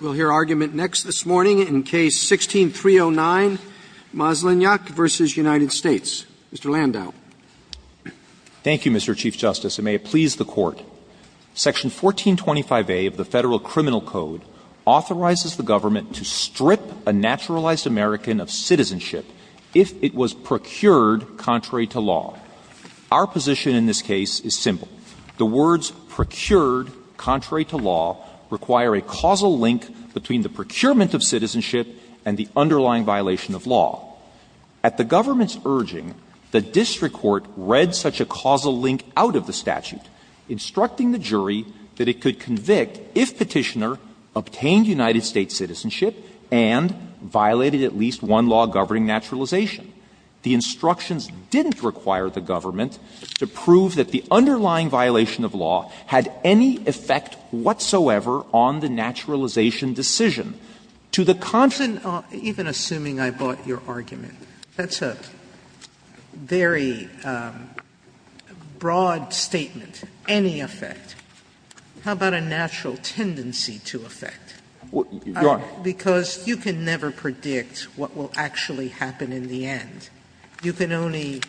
We'll hear argument next this morning in Case 16-309, Maslenjak v. United States. Mr. Landau. Thank you, Mr. Chief Justice, and may it please the Court. Section 1425A of the Federal Criminal Code authorizes the government to strip a naturalized American of citizenship if it was procured contrary to law. Our position in this case is simple. The words procured contrary to law require a causal link between the procurement of citizenship and the underlying violation of law. At the government's urging, the district court read such a causal link out of the statute, instructing the jury that it could convict if Petitioner obtained United States citizenship and violated at least one law governing naturalization. The instructions didn't require the government to prove that the underlying violation of law had any effect whatsoever on the naturalization decision. To the contrary, the district court read such a causal link out of the statute. Sotomayor, even assuming I bought your argument, that's a very broad statement, any effect. How about a natural tendency to effect? Landau Because you can never predict what will actually happen in the end. You can only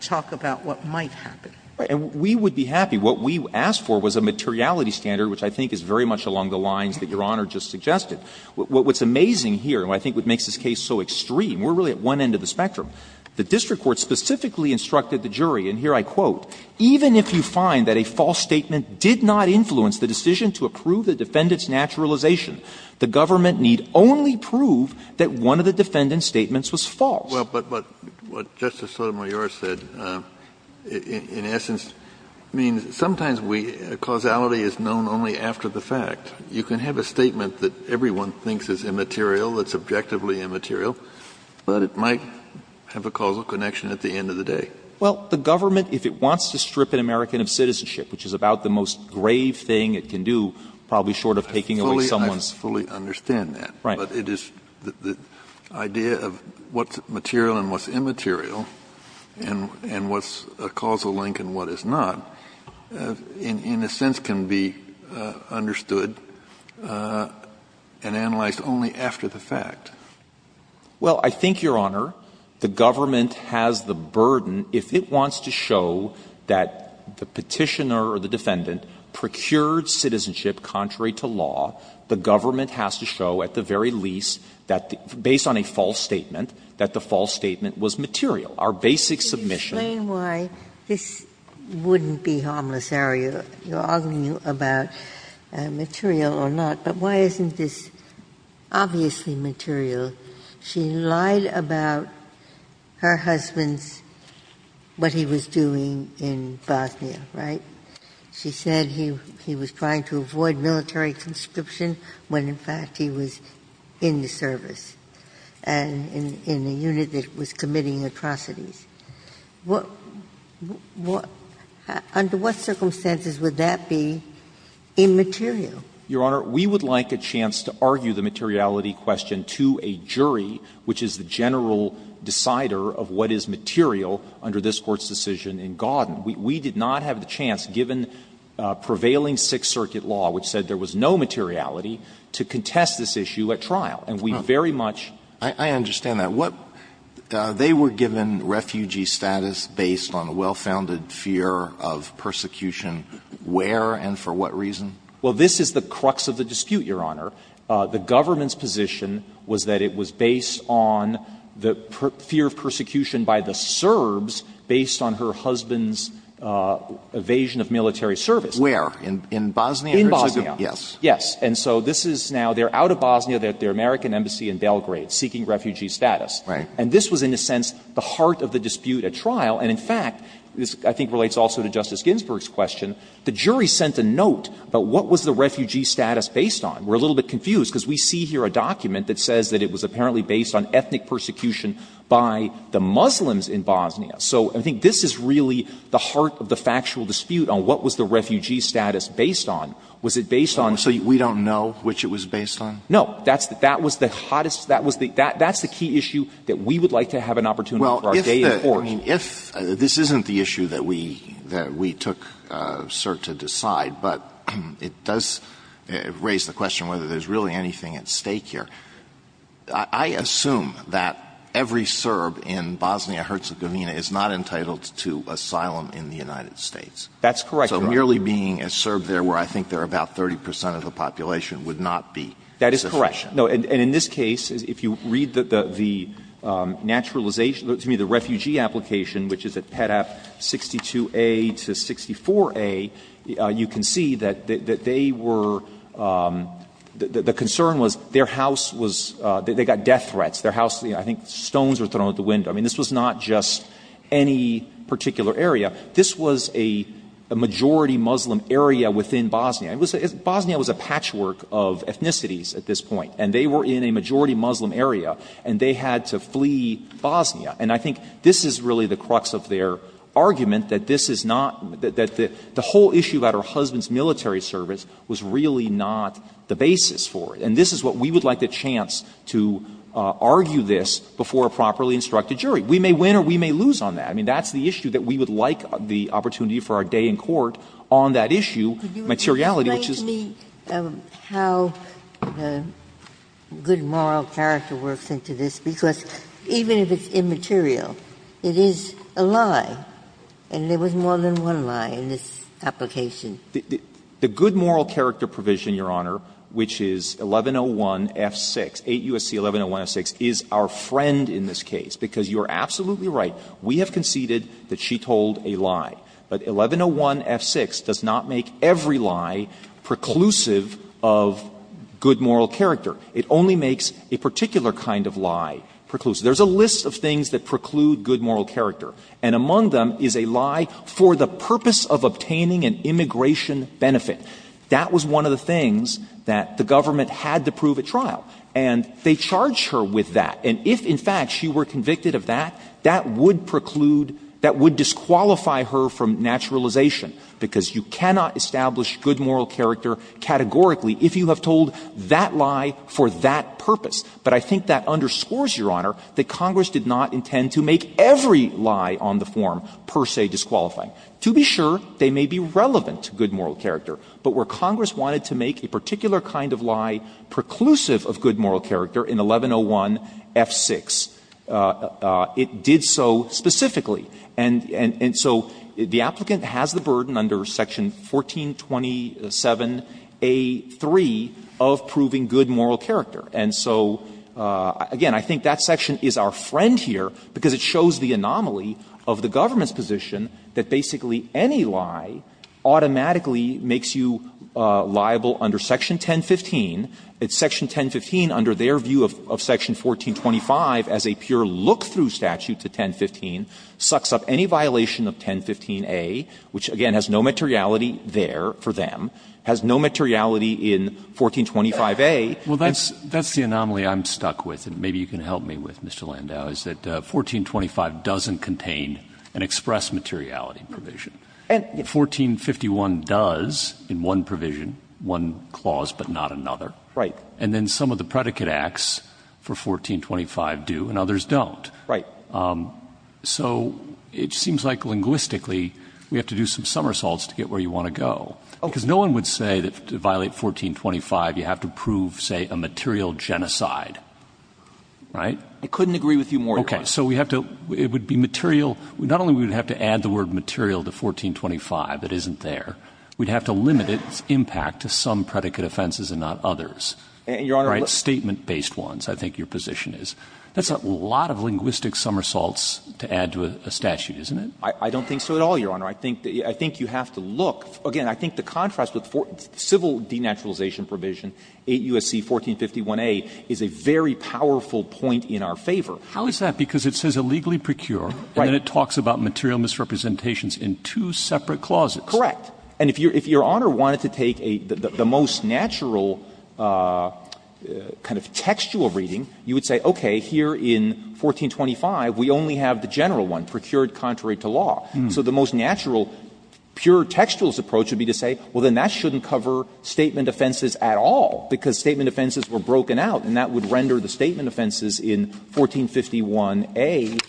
talk about what might happen. And we would be happy. What we asked for was a materiality standard, which I think is very much along the lines that Your Honor just suggested. What's amazing here, and I think what makes this case so extreme, we're really at one end of the spectrum. The district court specifically instructed the jury, and here I quote, ''Even if you find that a false statement did not influence the decision to approve the defendant's naturalization, the government need only prove that one of the defendant's statements was false.'' Kennedy Well, but what Justice Sotomayor said, in essence, means sometimes we, causality is known only after the fact. You can have a statement that everyone thinks is immaterial, that's objectively immaterial, but it might have a causal connection at the end of the day. Landau Well, the government, if it wants to strip an American of citizenship, which is about the most grave thing it can do, probably short of taking away someone's Kennedy I fully understand that. Landau Right. Kennedy But it is the idea of what's material and what's immaterial, and what's a causal link and what is not, in a sense, can be understood and analyzed only after the fact. Landau Well, I think, Your Honor, the government has the burden, if it wants to show that the Petitioner or the Defendant procured citizenship contrary to law, the government has to show at the very least that, based on a false statement, that the false statement was material. Our basic submission was that the Petitioner or the Defendant procured citizenship contrary to law. Ginsburg This wouldn't be harmless, are you? You're arguing about material or not, but why isn't this obviously material? She lied about her husband's, what he was doing in Bosnia, right? She said he was trying to avoid military conscription when, in fact, he was in the service, in a unit that was committing atrocities. Under what circumstances would that be immaterial? Landau Your Honor, we would like a chance to argue the materiality question to a jury, which is the general decider of what is material under this Court's decision in Gauden. We did not have the chance, given prevailing Sixth Circuit law, which said there was no materiality, to contest this issue at trial. And we very much ---- Alito I understand that. What they were given refugee status based on a well-founded fear of persecution. Where and for what reason? Landau Well, this is the crux of the dispute, Your Honor. The government's position was that it was based on the fear of persecution by the Serbs based on her husband's evasion of military service. Alito Where? In Bosnia? Landau In Bosnia. Alito Yes. Landau Yes. And so this is now they're out of Bosnia. They're at the American embassy in Belgrade seeking refugee status. Alito Right. Landau And this was, in a sense, the heart of the dispute at trial. And, in fact, this I think relates also to Justice Ginsburg's question. The jury sent a note about what was the refugee status based on. We're a little bit confused, because we see here a document that says that it was apparently based on ethnic persecution by the Muslims in Bosnia. So I think this is really the heart of the factual dispute on what was the refugee status based on. Was it based on the ---- Alito So we don't know which it was based on? Landau No. That's the key issue that we would like to have an opportunity for our day in court. Alito Well, if this isn't the issue that we took cert to decide, but it does raise the question whether there's really anything at stake here. I assume that every Serb in Bosnia-Herzegovina is not entitled to asylum in the United States. Landau That's correct, Your Honor. Alito So merely being a Serb there where I think there are about 30 percent of the population would not be sufficient. Landau That is correct. No. And in this case, if you read the naturalization ---- excuse me, the refugee application, which is at Petap 62a to 64a, you can see that they were ---- the concern was their house was ---- they got death threats. Their house, I think, stones were thrown out the window. I mean, this was not just any particular area. This was a majority Muslim area within Bosnia. It was a ---- Bosnia was a patchwork of ethnicities at this point, and they were in a majority Muslim area, and they had to flee Bosnia. And I think this is really the crux of their argument, that this is not ---- that the whole issue about her husband's military service was really not the basis for it. And this is what we would like the chance to argue this before a properly instructed jury. We may win or we may lose on that. I mean, that's the issue that we would like the opportunity for our day in court on that issue, materiality, which is ---- Ginsburg Could you explain to me how the good moral character works into this? Because even if it's immaterial, it is a lie, and there was more than one lie in this application. The good moral character provision, Your Honor, which is 1101F6, 8 U.S.C. 1101F6, is our friend in this case, because you are absolutely right. We have conceded that she told a lie. But 1101F6 does not make every lie preclusive of good moral character. It only makes a particular kind of lie preclusive. There's a list of things that preclude good moral character, and among them is a lie for the purpose of obtaining an immigration benefit. That was one of the things that the government had to prove at trial, and they charged her with that. And if, in fact, she were convicted of that, that would preclude, that would disqualify her from naturalization, because you cannot establish good moral character categorically if you have told that lie for that purpose. But I think that underscores, Your Honor, that Congress did not intend to make every kind of lie on the form per se disqualifying. To be sure, they may be relevant to good moral character, but where Congress wanted to make a particular kind of lie preclusive of good moral character in 1101F6, it did so specifically. And so the applicant has the burden under Section 1427A3 of proving good moral character. And so, again, I think that section is our friend here, because it shows the anomaly of the government's position that basically any lie automatically makes you liable under Section 1015. It's Section 1015 under their view of Section 1425 as a pure look-through statute to 1015, sucks up any violation of 1015A, which, again, has no materiality there for them, has no materiality in 1425A. Well, that's the anomaly I'm stuck with, and maybe you can help me with, Mr. Landau, is that 1425 doesn't contain an express materiality provision. 1451 does in one provision, one clause but not another. Right. And then some of the predicate acts for 1425 do and others don't. Right. So it seems like linguistically we have to do some somersaults to get where you want to go, because no one would say that to violate 1425 you have to prove, say, a material genocide, right? I couldn't agree with you more, Your Honor. Okay. So we have to — it would be material — not only would we have to add the word material to 1425, it isn't there, we'd have to limit its impact to some predicate offenses and not others. Your Honor, let's — Right? Statement-based ones, I think your position is. That's a lot of linguistic somersaults to add to a statute, isn't it? I don't think so at all, Your Honor. I think you have to look — again, I think the contrast with civil denaturalization provision, 8 U.S.C. 1451a, is a very powerful point in our favor. How is that? Because it says illegally procure. Right. And then it talks about material misrepresentations in two separate clauses. Correct. And if your Honor wanted to take a — the most natural kind of textual reading, you would say, okay, here in 1425 we only have the general one, procured contrary to law. So the most natural, pure textualist approach would be to say, well, then that shouldn't cover statement offenses at all, because statement offenses were broken out, and that would render the statement offenses in 1451a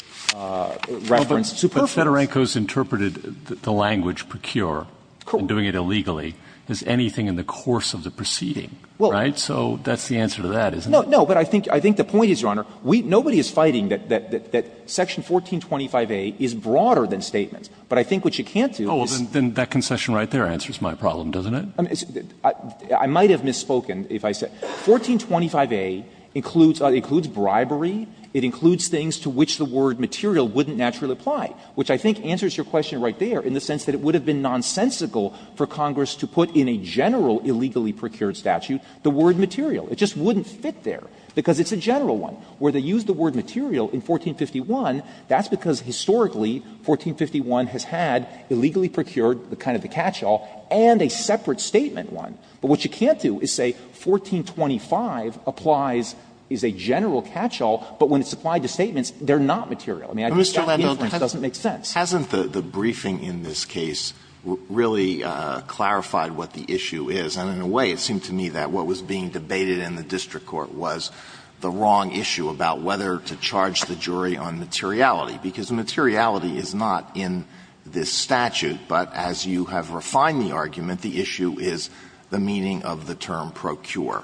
reference superfluous. But Federico's interpreted the language procure and doing it illegally as anything in the course of the proceeding, right? So that's the answer to that, isn't it? No, but I think the point is, Your Honor, nobody is fighting that section 1425a is But I think what you can't do is — Oh, well, then that concession right there answers my problem, doesn't it? I mean, I might have misspoken if I said — 1425a includes bribery. It includes things to which the word material wouldn't naturally apply, which I think answers your question right there in the sense that it would have been nonsensical for Congress to put in a general illegally procured statute the word material. It just wouldn't fit there, because it's a general one. Where they use the word material in 1451, that's because historically 1451 has had illegally procured, the kind of the catch-all, and a separate statement one. But what you can't do is say 1425 applies — is a general catch-all, but when it's applied to statements, they're not material. I mean, I think that inference doesn't make sense. Alito, hasn't the briefing in this case really clarified what the issue is? And in a way, it seemed to me that what was being debated in the district court was the wrong issue about whether to charge the jury on materiality, because materiality is not in this statute. But as you have refined the argument, the issue is the meaning of the term procure,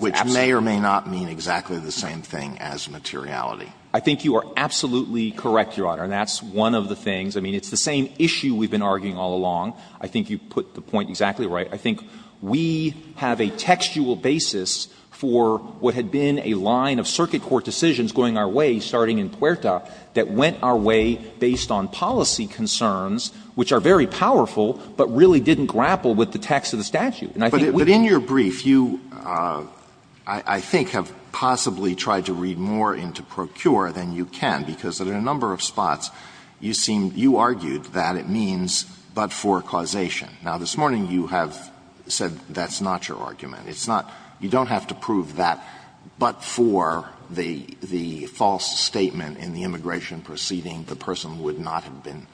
which may or may not mean exactly the same thing as materiality. I think you are absolutely correct, Your Honor, and that's one of the things. I mean, it's the same issue we've been arguing all along. I think you put the point exactly right. I think we have a textual basis for what had been a line of circuit court decisions going our way, starting in Puerta, that went our way based on policy concerns, which are very powerful, but really didn't grapple with the text of the statute. And I think we've been able to do that. Alito, but in your brief, you, I think, have possibly tried to read more into procure than you can, because in a number of spots, you seem — you argued that it means but for causation. Now, this morning, you have said that's not your argument. It's not — you don't have to prove that but for the false statement in the immigration proceeding, the person would not have been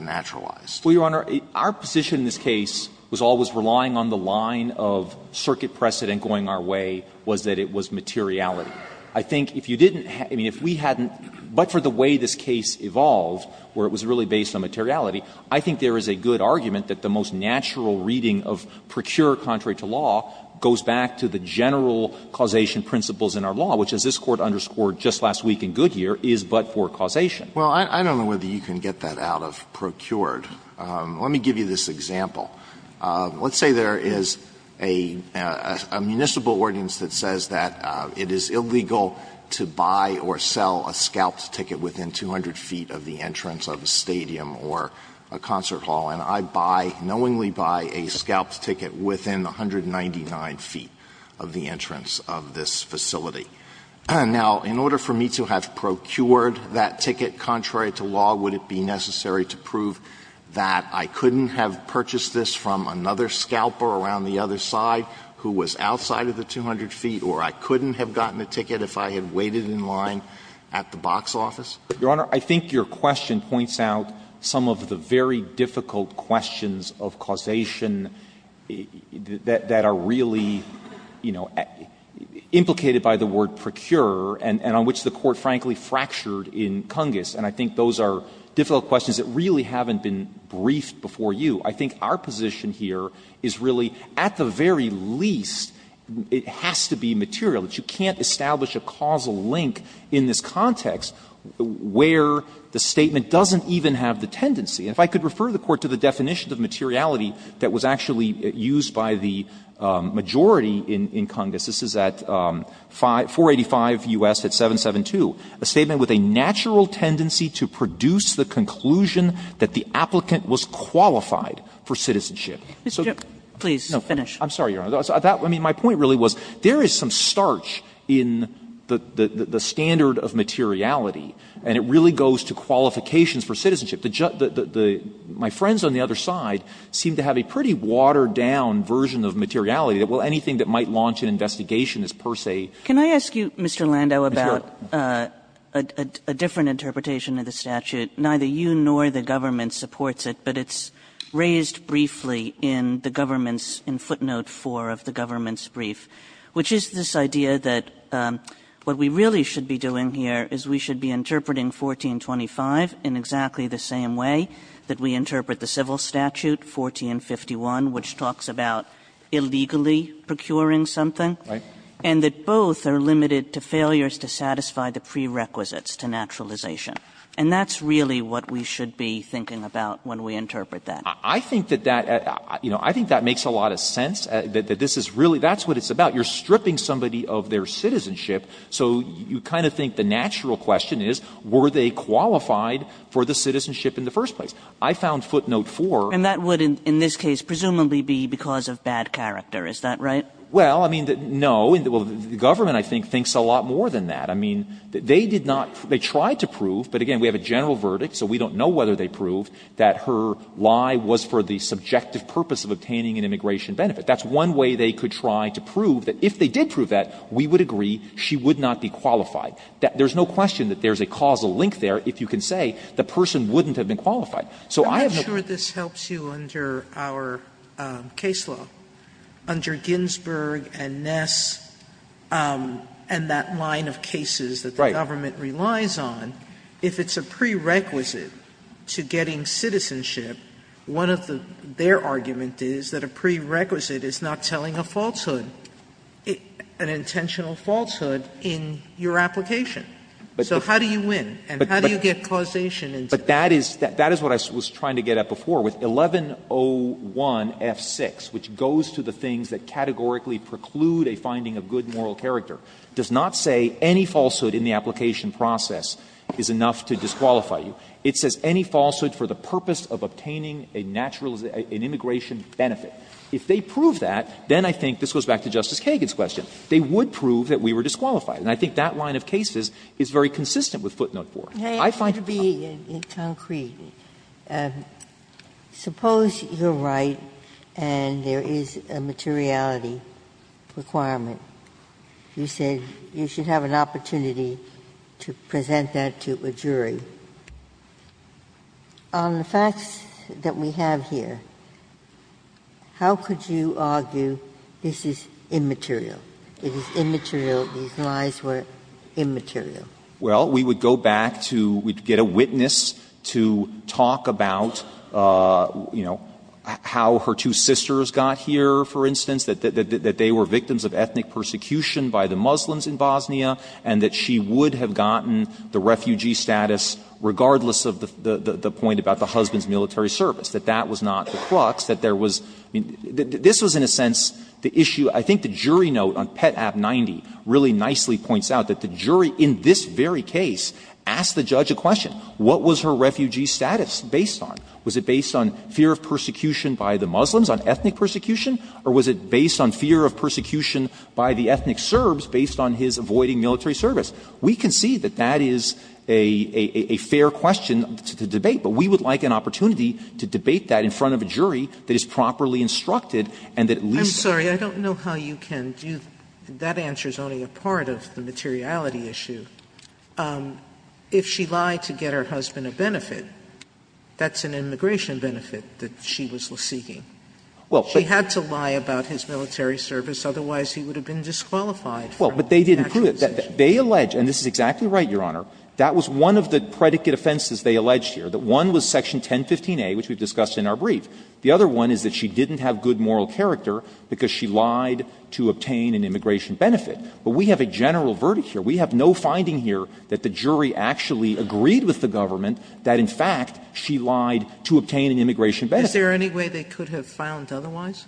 naturalized. Well, Your Honor, our position in this case was always relying on the line of circuit precedent going our way was that it was materiality. I think if you didn't — I mean, if we hadn't — but for the way this case evolved, where it was really based on materiality, I think there is a good argument that the most natural reading of procure contrary to law goes back to the general causation principles in our law, which, as this Court underscored just last week in Goodyear, is but for causation. Well, I don't know whether you can get that out of procured. Let me give you this example. Let's say there is a municipal ordinance that says that it is illegal to buy or sell a scalped ticket within 200 feet of the entrance of a stadium or a concert hall, and I buy, knowingly buy, a scalped ticket within 199 feet of the entrance of this facility. Now, in order for me to have procured that ticket contrary to law, would it be necessary to prove that I couldn't have purchased this from another scalper around the other side who was outside of the 200 feet, or I couldn't have gotten the ticket if I had waited in line at the box office? Your Honor, I think your question points out some of the very difficult questions of causation that are really, you know, implicated by the word procure and on which the Court, frankly, fractured in Cungus. And I think those are difficult questions that really haven't been briefed before you. I think our position here is really, at the very least, it has to be material. You can't establish a causal link in this context where the statement doesn't even have the tendency. And if I could refer the Court to the definition of materiality that was actually used by the majority in Cungus, this is at 485 U.S. at 772, a statement with a natural tendency to produce the conclusion that the applicant was qualified for citizenship. So the question is, is there a natural tendency to produce a conclusion that the applicant doesn't have access to research in the standard of materiality? And it really goes to qualifications for citizenship. The Judge, the my friends on the other side seem to have a pretty watered down version of materiality that will anything that might launch an investigation as, per se. Kagan. Can I ask you, Mr. Landau, about a different interpretation of the statute? Neither you nor the government supports it. But it's raised briefly in the government's, in footnote 4 of the government's brief, which is this idea that what we really should be doing here is we should be interpreting 1425 in exactly the same way that we interpret the civil statute, 1451, which talks about illegally procuring something. Right. And that both are limited to failures to satisfy the prerequisites to naturalization. And that's really what we should be thinking about when we interpret that. I think that that, you know, I think that makes a lot of sense. That this is really, that's what it's about. You're stripping somebody of their citizenship. So you kind of think the natural question is, were they qualified for the citizenship in the first place? I found footnote 4. And that would, in this case, presumably be because of bad character. Is that right? Well, I mean, no. And the government, I think, thinks a lot more than that. I mean, they did not, they tried to prove, but again, we have a general verdict. So we don't know whether they proved that her lie was for the subjective purpose of obtaining an immigration benefit. That's one way they could try to prove that if they did prove that, we would agree she would not be qualified. There's no question that there's a causal link there. If you can say the person wouldn't have been qualified. So I have no question. Sotomayor, I'm not sure this helps you under our case law. Under Ginsburg and Ness and that line of cases that the government relies on, if it's a prerequisite to getting citizenship, one of the, their argument is that a prerequisite is not telling a falsehood, an intentional falsehood, in your application. So how do you win, and how do you get causation into it? But that is, that is what I was trying to get at before with 1101F6, which goes to the things that categorically preclude a finding of good moral character, does not say any falsehood in the application process is enough to disqualify you. It says any falsehood for the purpose of obtaining a natural, an immigration benefit. If they prove that, then I think this goes back to Justice Kagan's question. They would prove that we were disqualified. And I think that line of cases is very consistent with footnote 4. I find it very consistent. Ginsburg. May I ask you to be concrete? Suppose you're right and there is a materiality requirement. You said you should have an opportunity to present that to a jury. On the facts that we have here, how could you argue this is immaterial? It is immaterial. These lies were immaterial. Well, we would go back to we'd get a witness to talk about, you know, how her two sisters got here, for instance, that they were victims of ethnic persecution by the Muslims in Bosnia, and that she would have gotten the refugee status regardless of the point about the husband's military service, that that was not the crux, that there was this was in a sense the issue. I think the jury note on Pet. Ab. 90 really nicely points out that the jury in this very case asked the judge a question. What was her refugee status based on? Was it based on fear of persecution by the Muslims, on ethnic persecution? Or was it based on fear of persecution by the ethnic Serbs based on his avoiding military service? We can see that that is a fair question to debate, but we would like an opportunity to debate that in front of a jury that is properly instructed and that at least that. Sotomayor, I'm sorry, I don't know how you can do that answer is only a part of the materiality issue. If she lied to get her husband a benefit, that's an immigration benefit that she was seeking. She had to lie about his military service, otherwise he would have been disqualified from the actual decision. They allege, and this is exactly right, Your Honor, that was one of the predicate offenses they alleged here, that one was Section 1015a, which we've discussed in our brief. The other one is that she didn't have good moral character because she lied to obtain an immigration benefit. But we have a general verdict here. We have no finding here that the jury actually agreed with the government that in fact she lied to obtain an immigration benefit. Sotomayor, is there any way they could have found otherwise?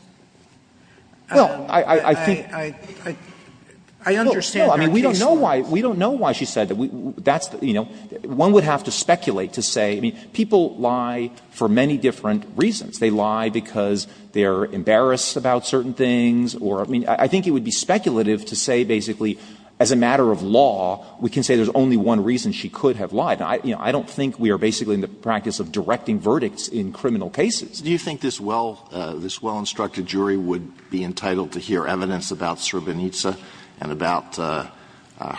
I understand her case. We don't know why she said that. That's, you know, one would have to speculate to say, people lie for many different reasons. They lie because they're embarrassed about certain things or, I mean, I think it would be speculative to say basically as a matter of law we can say there's only one reason she could have lied. I don't think we are basically in the practice of directing verdicts in criminal cases. Do you think this well-instructed jury would be entitled to hear evidence about Srebrenica and about her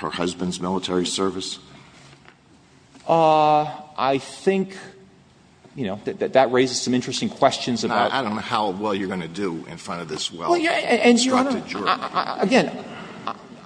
husband's military service? I think, you know, that that raises some interesting questions about the fact that she lied. I don't know how well you're going to do in front of this well-instructed jury. Well, Your Honor, again,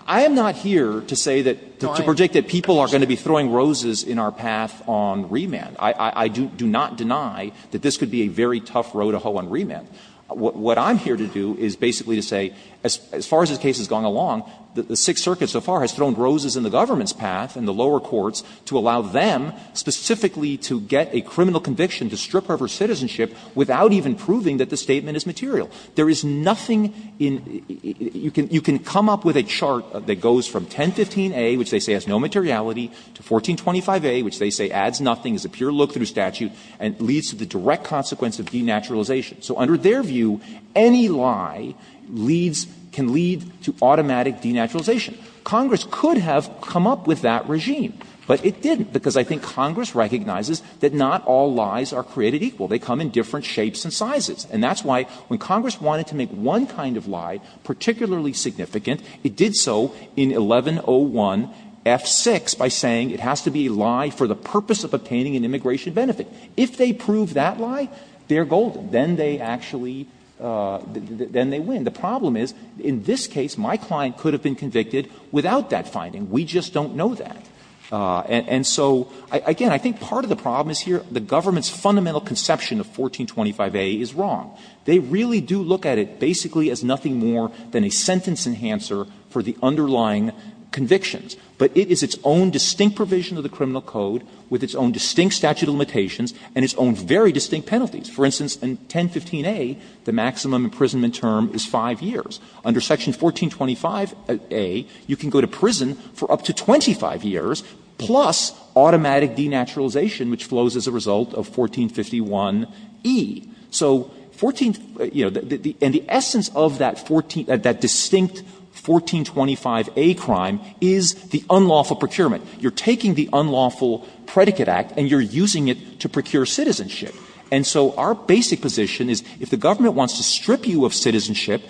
I am not here to say that, to predict that people are going to be throwing roses in our path on remand. I do not deny that this could be a very tough row to hoe on remand. What I'm here to do is basically to say, as far as this case has gone along, the Sixth Circuit so far has thrown roses in the government's path and the lower courts to allow them specifically to get a criminal conviction to strip her of her citizenship without even proving that the statement is material. There is nothing in you can come up with a chart that goes from 1015a, which they say has no materiality, to 1425a, which they say adds nothing, is a pure look-through statute, and leads to the direct consequence of denaturalization. So under their view, any lie leads to automatic denaturalization. Congress could have come up with that regime, but it didn't, because I think Congress recognizes that not all lies are created equal. They come in different shapes and sizes. And that's why when Congress wanted to make one kind of lie particularly significant, it did so in 1101f6 by saying it has to be a lie for the purpose of obtaining an immigration benefit. If they prove that lie, they're golden. Then they actually win. The problem is, in this case, my client could have been convicted without that finding. We just don't know that. And so, again, I think part of the problem is here the government's fundamental conception of 1425a is wrong. They really do look at it basically as nothing more than a sentence enhancer for the underlying convictions. But it is its own distinct provision of the criminal code, with its own distinct statute of limitations, and its own very distinct penalties. For instance, in 1015a, the maximum imprisonment term is 5 years. Under section 1425a, you can go to prison for up to 25 years, plus automatic denaturalization, which flows as a result of 1451e. So 14, you know, and the essence of that 14, that distinct 1425a crime is the unlawful procurement. You're taking the unlawful predicate act and you're using it to procure citizenship. And so our basic position is if the government wants to strip you of citizenship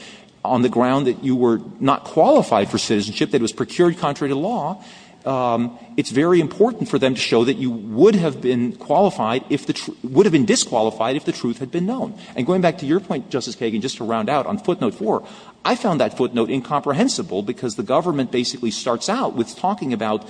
on the ground that you were not qualified for citizenship, that it was procured contrary to law, it's very important for them to show that you would have been qualified if the truth – would have been disqualified if the truth had been known. And going back to your point, Justice Kagan, just to round out on footnote 4, I found that footnote incomprehensible because the government basically starts out with talking about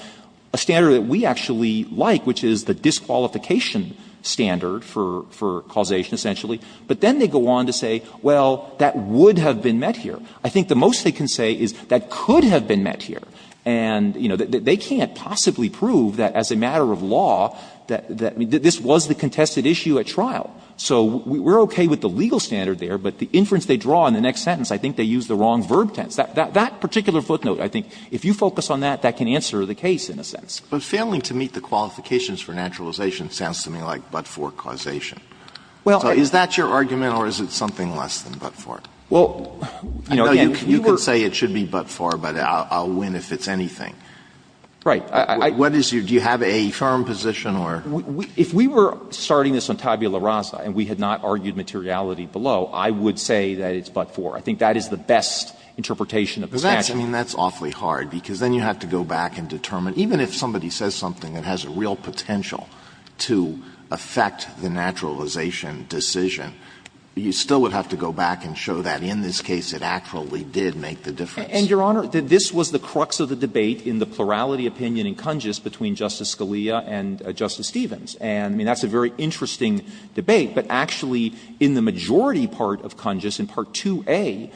a standard that we actually like, which is the disqualification standard for causation, essentially. But then they go on to say, well, that would have been met here. I think the most they can say is that could have been met here. And, you know, they can't possibly prove that as a matter of law, that this wasn't the contested issue at trial. So we're okay with the legal standard there, but the inference they draw in the next sentence, I think they use the wrong verb tense. That particular footnote, I think, if you focus on that, that can answer the case in a sense. Alitoson But failing to meet the qualifications for naturalization sounds to me like but-for causation. So is that your argument or is it something less than but-for? I know you can say it should be but-for, but I'll win if it's anything. Do you have a firm position or? If we were starting this on tabula rasa and we had not argued materiality below, I would say that it's but-for. I think that is the best interpretation of the statute. Alitoson I mean, that's awfully hard, because then you have to go back and determine even if somebody says something that has a real potential to affect the naturalization decision, you still would have to go back and show that in this case it actually did make the difference. And, Your Honor, this was the crux of the debate in the plurality opinion in Kungis between Justice Scalia and Justice Stevens. And I mean, that's a very interesting debate. But actually in the majority part of Kungis, in Part 2a,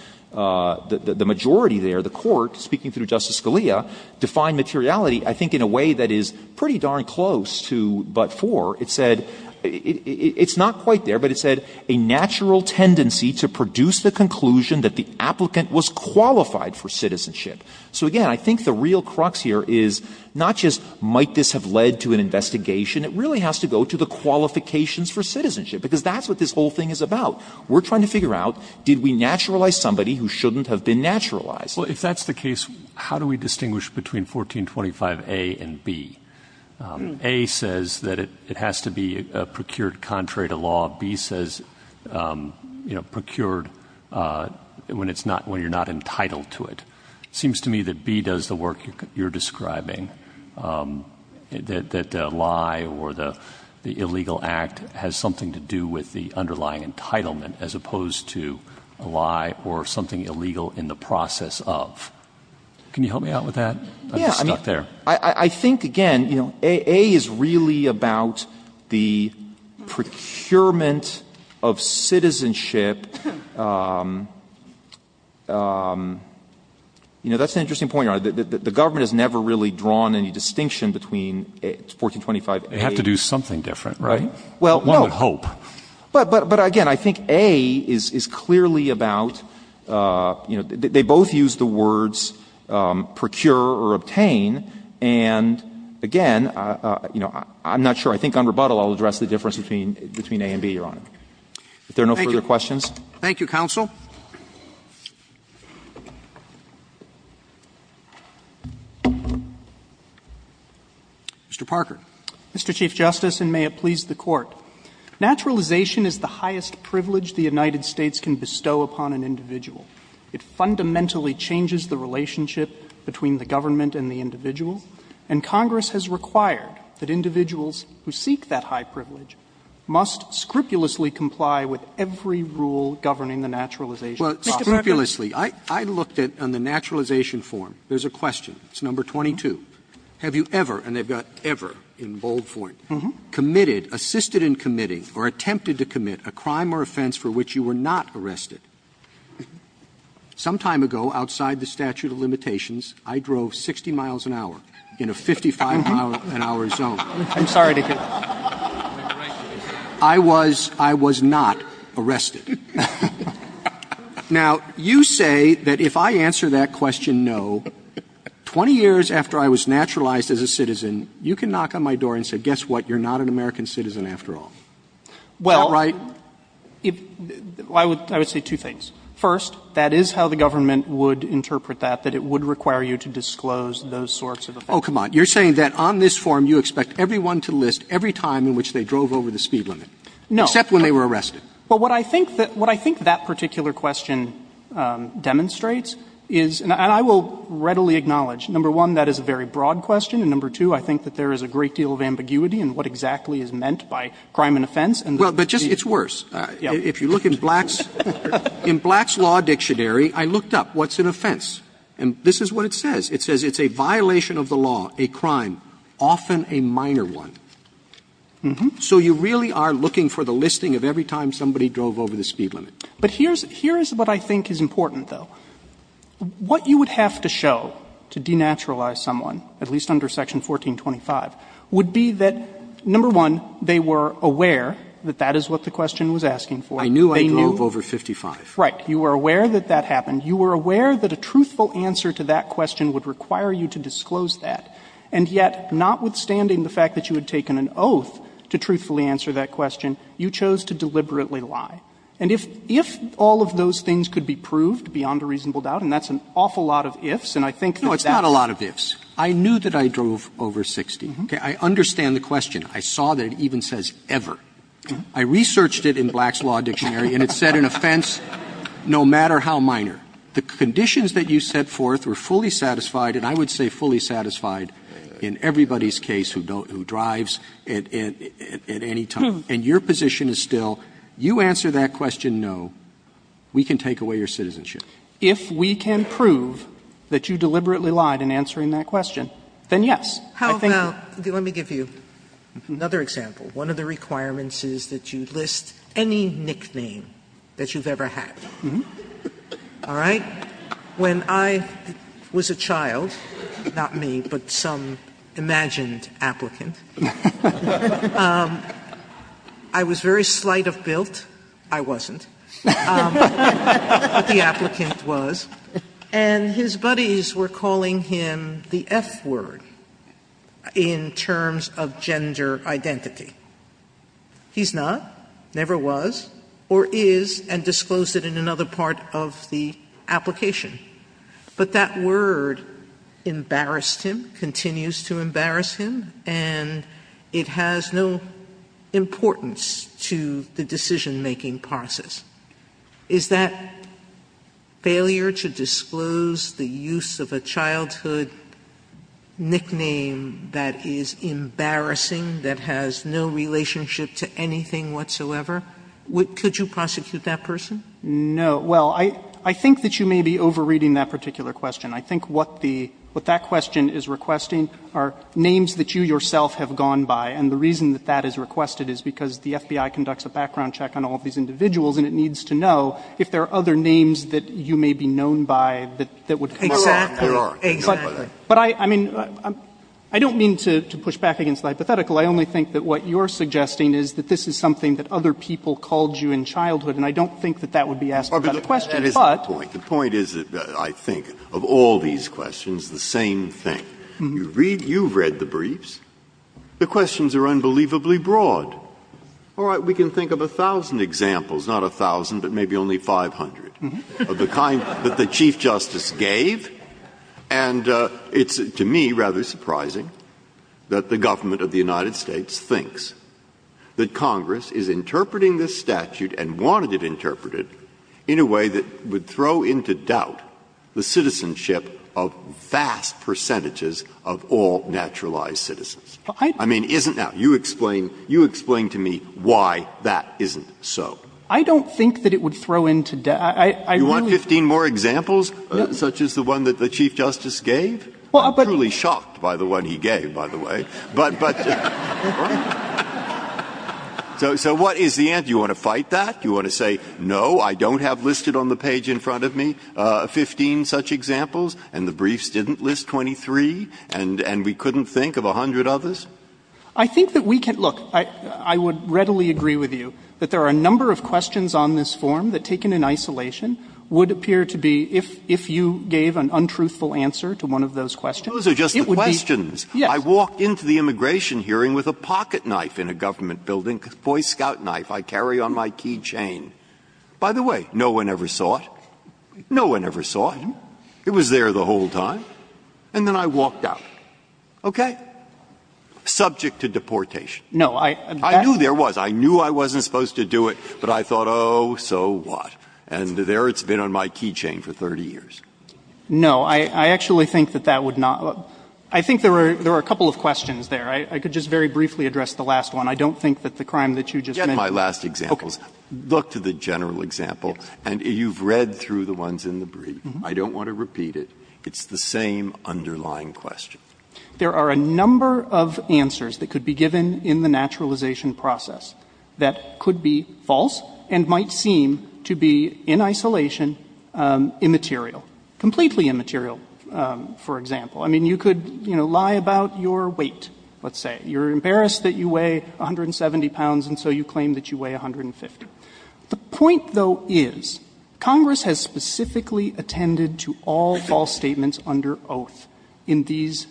the majority there, the court, speaking through Justice Scalia, defined materiality I think in a way that is pretty darn close to but-for. It said — it's not quite there, but it said a natural tendency to produce the conclusion that the applicant was qualified for citizenship. So, again, I think the real crux here is not just might this have led to an investigation. It really has to go to the qualifications for citizenship, because that's what this whole thing is about. We're trying to figure out did we naturalize somebody who shouldn't have been naturalized. Roberts, Well, if that's the case, how do we distinguish between 1425a and b? a says that it has to be procured contrary to law. b says, you know, procured when it's not — when you're not entitled to it. It seems to me that b does the work you're describing, that the lie or the illegal act has something to do with the underlying entitlement as opposed to a lie or something illegal in the process of. Can you help me out with that? I'm stuck there. I think, again, you know, a is really about the procurement of citizenship. You know, that's an interesting point, Your Honor. The government has never really drawn any distinction between 1425a and b. They have to do something different, right? Well, no. One with hope. But, again, I think a is clearly about, you know, they both use the words procure or obtain, and, again, you know, I'm not sure. I think on rebuttal I'll address the difference between a and b, Your Honor. If there are no further questions. Roberts, Thank you. Thank you, counsel. Mr. Parker. Parker, Mr. Chief Justice, and may it please the Court. Naturalization is the highest privilege the United States can bestow upon an individual. It fundamentally changes the relationship between the government and the individual, and Congress has required that individuals who seek that high privilege must scrupulously comply with every rule governing the naturalization process. Well, scrupulously. I looked at, on the naturalization form, there's a question. It's number 22. Have you ever, and they've got ever in bold form, committed, assisted in committing, or attempted to commit, a crime or offense for which you were not arrested? Some time ago, outside the statute of limitations, I drove 60 miles an hour in a 55-mile an hour zone. I'm sorry to hear that. I was not arrested. Now, you say that if I answer that question no, 20 years after I was naturalized as a citizen, you can knock on my door and say, guess what, you're not an American citizen after all. Is that right? Well, I would say two things. First, that is how the government would interpret that, that it would require you to disclose those sorts of offenses. Oh, come on. You're saying that on this form, you expect everyone to list every time in which they drove over the speed limit. No. Except when they were arrested. Well, what I think that particular question demonstrates is, and I will readily acknowledge, number one, that is a very broad question, and number two, I think that there is a great deal of ambiguity in what exactly is meant by crime and offense. Well, but just, it's worse. If you look in Black's, in Black's Law Dictionary, I looked up what's an offense, and this is what it says. It says it's a violation of the law, a crime, often a minor one. So you really are looking for the listing of every time somebody drove over the speed limit. But here's, here's what I think is important, though. What you would have to show to denaturalize someone, at least under Section 1425, would be that, number one, they were aware that that is what the question was asking for. They knew. Roberts. I drove over 55. Right. You were aware that that happened. You were aware that a truthful answer to that question would require you to disclose that. And yet, notwithstanding the fact that you had taken an oath to truthfully answer that question, you chose to deliberately lie. And if, if all of those things could be proved beyond a reasonable doubt, and that's an awful lot of ifs, and I think that that's. No, it's not a lot of ifs. I knew that I drove over 60. Okay. I understand the question. I saw that it even says ever. I researched it in Black's Law Dictionary, and it said an offense no matter how minor. The conditions that you set forth were fully satisfied, and I would say fully satisfied in everybody's case who drives at any time. And your position is still, you answer that question no, we can take away your citizenship. If we can prove that you deliberately lied in answering that question, then yes. How about, let me give you another example. One of the requirements is that you list any nickname that you've ever had. All right? When I was a child, not me, but some imagined applicant. I was very slight of built. I wasn't. But the applicant was. And his buddies were calling him the F word in terms of gender identity. He's not, never was, or is, and disclosed it in another part of the application. But that word embarrassed him, continues to embarrass him, and it has no importance to the decision-making process. Is that failure to disclose the use of a childhood nickname that is embarrassing, that has no relationship to anything whatsoever? Could you prosecute that person? No. Well, I think that you may be over-reading that particular question. I think what the, what that question is requesting are names that you yourself have gone by. And the reason that that is requested is because the FBI conducts a background check on all of these individuals, and it needs to know if there are other names that you may be known by that would come up. Exactly. Exactly. But I, I mean, I don't mean to push back against the hypothetical. I only think that what you're suggesting is that this is something that other people called you in childhood. And I don't think that that would be asked without a question. But. The point is, I think, of all these questions, the same thing. You read, you've read the briefs. The questions are unbelievably broad. All right. We can think of a thousand examples, not a thousand, but maybe only 500, of the kind that the Chief Justice gave. And it's, to me, rather surprising that the government of the United States thinks that Congress is interpreting this statute and wanted it interpreted in a way that would throw into doubt the citizenship of vast percentages of all naturalized citizens. I mean, isn't that? You explain, you explain to me why that isn't so. I don't think that it would throw into doubt. I, I really. You want 15 more examples such as the one that the Chief Justice gave? Well, but. I'm truly shocked by the one he gave, by the way. But, but. So, so what is the answer? You want to fight that? You want to say, no, I don't have listed on the page in front of me 15 such examples and the briefs didn't list 23 and, and we couldn't think of a hundred others? I think that we can. Look, I, I would readily agree with you that there are a number of questions on this form that, taken in isolation, would appear to be, if, if you gave an untruthful answer to one of those questions. Those are just the questions. Yes. I walked into the immigration hearing with a pocketknife in a government building. Boy, scout knife, I carry on my keychain. By the way, no one ever saw it. No one ever saw it. It was there the whole time. And then I walked out. Okay? Subject to deportation. No, I. I knew there was. I knew I wasn't supposed to do it. But I thought, oh, so what? And there it's been on my keychain for 30 years. No, I, I actually think that that would not. I think there are, there are a couple of questions there. I, I could just very briefly address the last one. I don't think that the crime that you just mentioned. Get my last examples. Okay. Look to the general example. And you've read through the ones in the brief. I don't want to repeat it. It's the same underlying question. There are a number of answers that could be given in the naturalization process that could be false and might seem to be in isolation immaterial, completely immaterial, for example. I mean, you could, you know, lie about your weight. Let's say you're embarrassed that you weigh 170 pounds. And so you claim that you weigh a hundred and fifty. The point, though, is Congress has specifically attended to all false statements under oath in these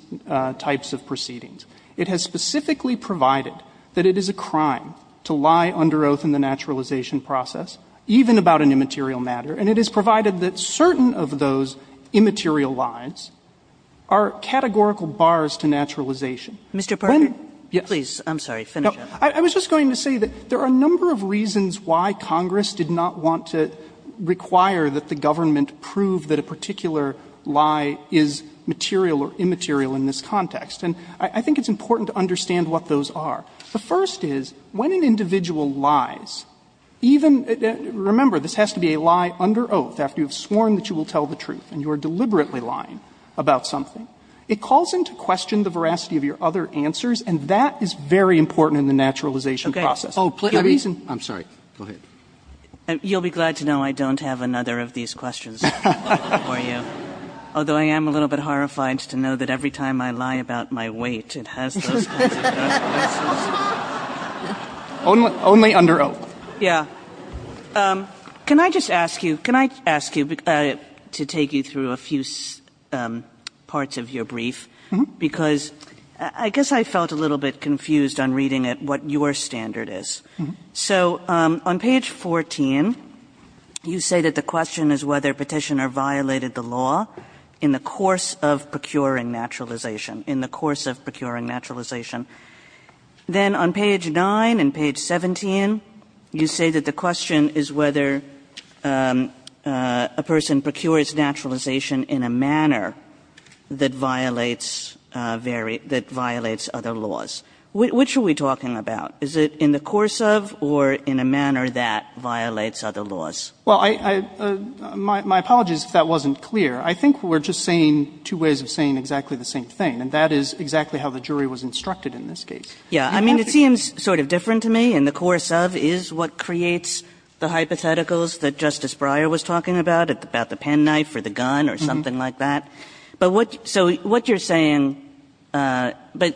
types of proceedings. It has specifically provided that it is a crime to lie under oath in the naturalization process, even about an immaterial matter. And it has provided that certain of those immaterial lies are categorical bars to naturalization. When Mr. Parker. Yes. I'm sorry. Finish up. I was just going to say that there are a number of reasons why Congress did not want to require that the government prove that a particular lie is material or immaterial in this context. And I think it's important to understand what those are. The first is, when an individual lies, even — remember, this has to be a lie under oath, after you have sworn that you will tell the truth and you are deliberately lying about something. It calls into question the veracity of your other answers, and that is very important in the naturalization process. Oh, please. I'm sorry. Go ahead. You'll be glad to know I don't have another of these questions for you. Although I am a little bit horrified to know that every time I lie about my weight, it has those kinds of effects. Only under oath. Yeah. Can I just ask you — can I ask you to take you through a few parts of your brief? Because I guess I felt a little bit confused on reading it, what your standard is. So on page 14, you say that the question is whether Petitioner violated the law in the course of procuring naturalization. In the course of procuring naturalization. Then on page 9 and page 17, you say that the question is whether a person procures naturalization in a manner that violates — that violates other laws. Which are we talking about? Is it in the course of or in a manner that violates other laws? Well, I — my apologies if that wasn't clear. I think we're just saying two ways of saying exactly the same thing. And that is exactly how the jury was instructed in this case. Yeah. I mean, it seems sort of different to me. In the course of is what creates the hypotheticals that Justice Breyer was talking about, about the penknife or the gun or something like that. But what — so what you're saying — but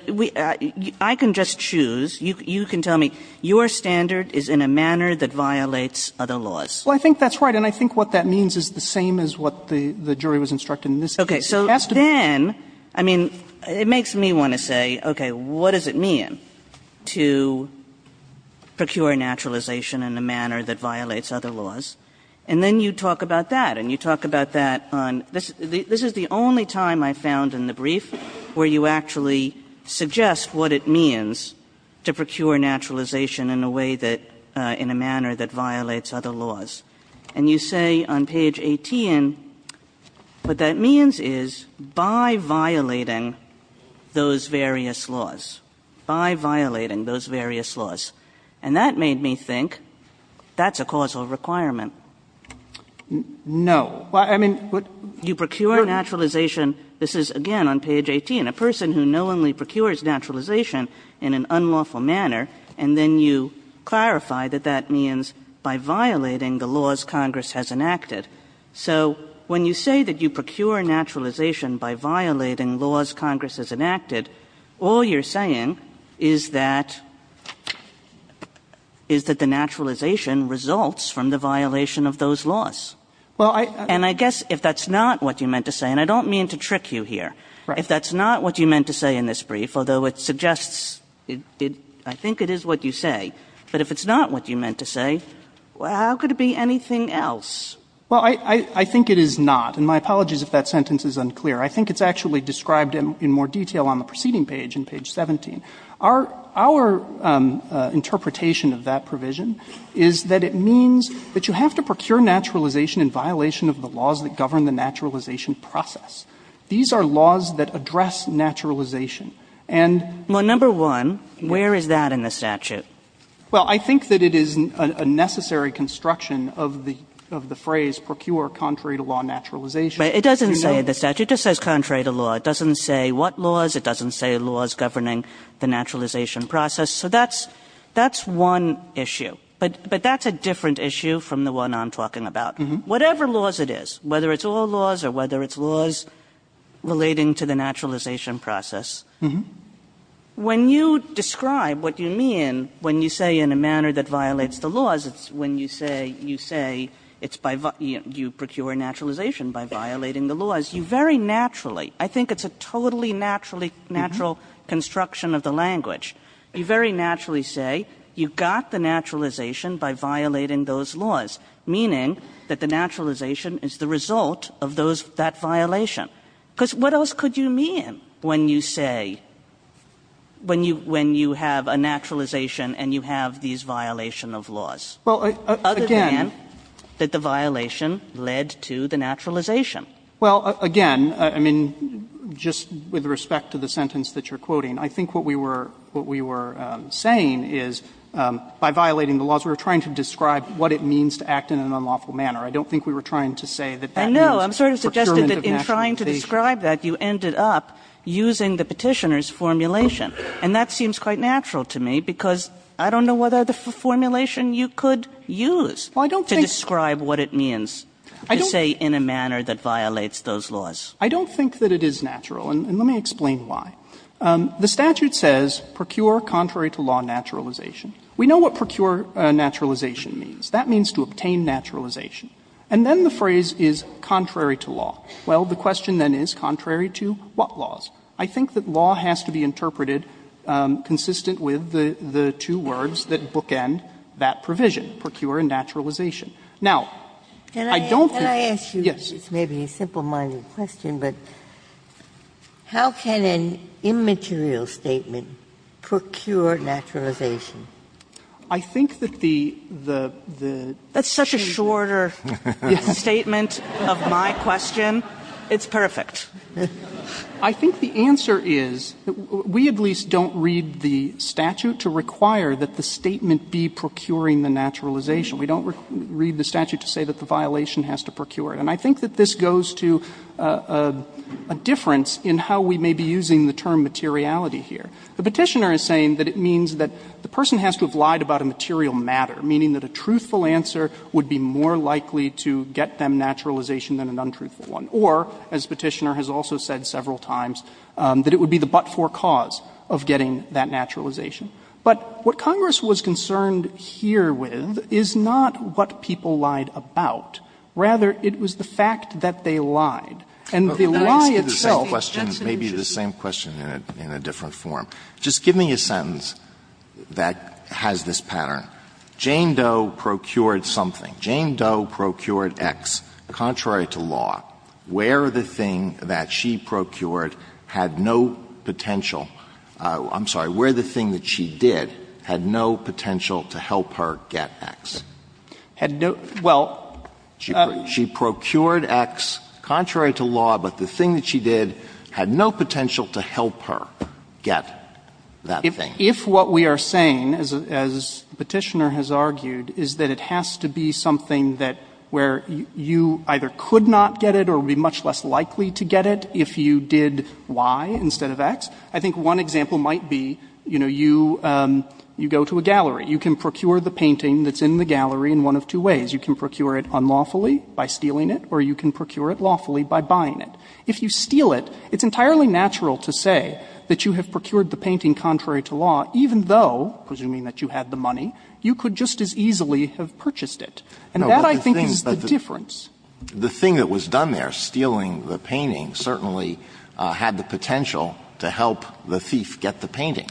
I can just choose. You can tell me your standard is in a manner that violates other laws. Well, I think that's right. And I think what that means is the same as what the jury was instructed in this case. Okay. So then, I mean, it makes me want to say, okay, what does it mean to procure naturalization in a manner that violates other laws? And then you talk about that. And you talk about that on — this is the only time I found in the brief where you actually suggest what it means to procure naturalization in a way that — in a manner that violates other laws. And you say on page 18, what that means is by violating those various laws, by violating those various laws. And that made me think that's a causal requirement. No. Well, I mean — You procure naturalization — this is, again, on page 18 — a person who knowingly procures naturalization in an unlawful manner, and then you clarify that that means by violating the laws Congress has enacted. So when you say that you procure naturalization by violating laws Congress has enacted, all you're saying is that — is that the naturalization results from the violation of those laws. Well, I — And I guess if that's not what you meant to say — and I don't mean to trick you here. Right. If that's not what you meant to say in this brief, although it suggests — I think it is what you say. But if it's not what you meant to say, how could it be anything else? Well, I — I think it is not. And my apologies if that sentence is unclear. I think it's actually described in more detail on the preceding page, on page 17. Our — our interpretation of that provision is that it means that you have to procure naturalization in violation of the laws that govern the naturalization process. These are laws that address naturalization. And — Well, number one, where is that in the statute? Well, I think that it is a necessary construction of the — of the phrase procure contrary-to-law naturalization. But it doesn't say in the statute. It just says contrary-to-law. It doesn't say what laws. It doesn't say laws governing the naturalization process. So that's — that's one issue. But — but that's a different issue from the one I'm talking about. Whatever laws it is, whether it's all laws or whether it's laws relating to the naturalization process, when you describe what you mean when you say in a manner that violates the laws, it's when you say — you say it's by — you procure naturalization by violating the laws. You very naturally — I think it's a totally naturally — natural construction of the language. You very naturally say you got the naturalization by violating those laws, meaning that the naturalization is the result of those — that violation. Because what else could you mean when you say — when you — when you have a naturalization and you have these violation of laws? Other than that the violation led to the naturalization? Well, again, I mean, just with respect to the sentence that you're quoting, I think what we were — what we were saying is by violating the laws, we were trying to describe what it means to act in an unlawful manner. I don't think we were trying to say that that means procurement of naturalization. But to describe that, you ended up using the Petitioner's formulation. And that seems quite natural to me, because I don't know what other formulation you could use to describe what it means to say in a manner that violates those laws. I don't think that it is natural, and let me explain why. The statute says procure contrary to law naturalization. We know what procure naturalization means. That means to obtain naturalization. And then the phrase is contrary to law. Well, the question then is contrary to what laws? I think that law has to be interpreted consistent with the two words that bookend that provision, procure and naturalization. Now, I don't think — Ginsburg. Can I ask you — Waxman. Yes. Ginsburg. It's maybe a simple-minded question, but how can an immaterial statement procure naturalization? Waxman. I think that the — Ginsburg. That's such a shorter statement of my question. It's perfect. Waxman. I think the answer is, we at least don't read the statute to require that the statement be procuring the naturalization. We don't read the statute to say that the violation has to procure it. And I think that this goes to a difference in how we may be using the term materiality here. The Petitioner is saying that it means that the person has to have lied about a material matter, meaning that a truthful answer would be more likely to get them naturalization than an untruthful one. Or, as Petitioner has also said several times, that it would be the but-for cause of getting that naturalization. But what Congress was concerned here with is not what people lied about. Rather, it was the fact that they lied. And the lie itself — Alito But let me ask you the same question, maybe the same question in a different form. Just give me a sentence that has this pattern. Jane Doe procured something. Jane Doe procured X. Contrary to law, where the thing that she procured had no potential — I'm sorry. Where the thing that she did had no potential to help her get X. Had no — well — She procured X. Contrary to law, but the thing that she did had no potential to help her get that thing. If what we are saying, as Petitioner has argued, is that it has to be something that — where you either could not get it or would be much less likely to get it if you did Y instead of X, I think one example might be, you know, you go to a gallery. You can procure the painting that's in the gallery in one of two ways. You can procure it unlawfully by stealing it, or you can procure it lawfully by buying it. If you steal it, it's entirely natural to say that you have procured the painting contrary to law, even though, presuming that you had the money, you could just as easily have purchased it. And that, I think, is the difference. The thing that was done there, stealing the painting, certainly had the potential to help the thief get the painting.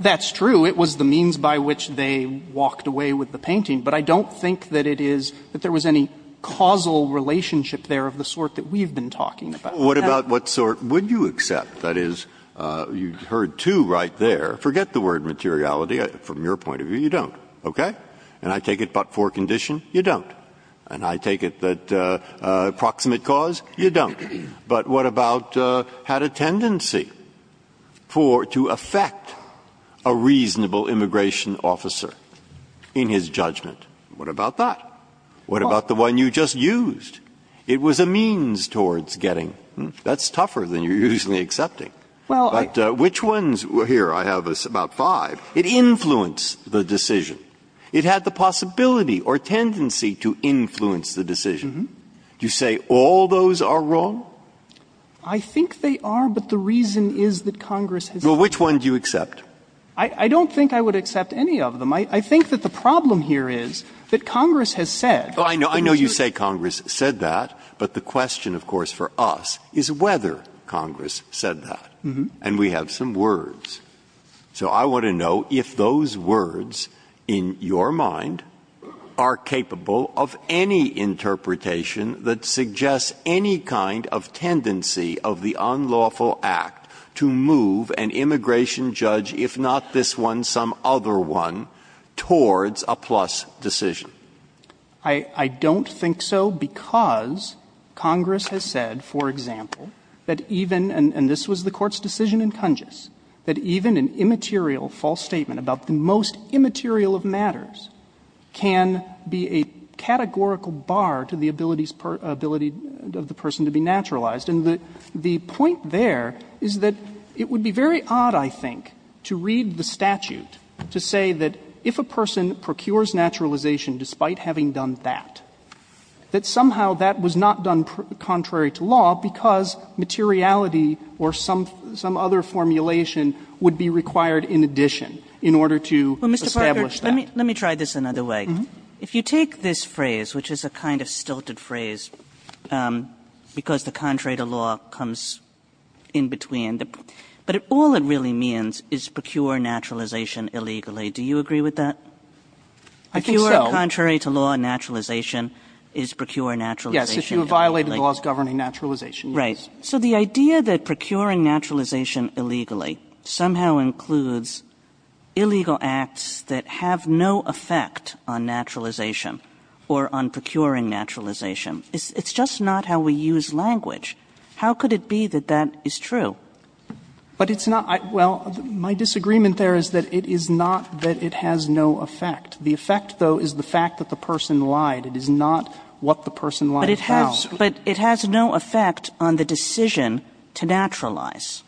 That's true. It was the means by which they walked away with the painting. But I don't think that it is — that there was any causal relationship there of the sort that we've been talking about. What about what sort would you accept? That is, you heard two right there. Forget the word materiality. From your point of view, you don't. Okay? And I take it, but for a condition, you don't. And I take it that approximate cause, you don't. But what about had a tendency for — to affect a reasonable immigration officer in his judgment? What about that? What about the one you just used? It was a means towards getting. That's tougher than you're usually accepting. But which ones — here, I have about five. It influenced the decision. It had the possibility or tendency to influence the decision. Do you say all those are wrong? I think they are, but the reason is that Congress has said — Well, which one do you accept? I don't think I would accept any of them. I think that the problem here is that Congress has said — Well, I know you say Congress said that, but the question, of course, for us is whether Congress said that. And we have some words. So I want to know if those words in your mind are capable of any interpretation that suggests any kind of tendency of the unlawful act to move an immigration judge, if not this one, some other one, towards a plus decision. I don't think so because Congress has said, for example, that even — and this was the Court's decision in Congess, that even an immaterial false statement about the most immaterial of matters can be a categorical bar to the ability of the person to be naturalized. And the point there is that it would be very odd, I think, to read the statute to say that if a person procures naturalization despite having done that, that somehow that was not done contrary to law because materiality or some other formulation would be required in addition in order to establish that. Kagan. Let me try this another way. If you take this phrase, which is a kind of stilted phrase because the contrary to law comes in between, but all it really means is procure naturalization illegally. Do you agree with that? I think so. The contrary to law naturalization is procure naturalization illegally. Yes. If you have violated the laws governing naturalization, yes. Right. So the idea that procuring naturalization illegally somehow includes illegal acts that have no effect on naturalization or on procuring naturalization, it's just not how we use language. How could it be that that is true? But it's not — well, my disagreement there is that it is not that it has no effect. The effect, though, is the fact that the person lied. It is not what the person lied about. But it has no effect on the decision to naturalize.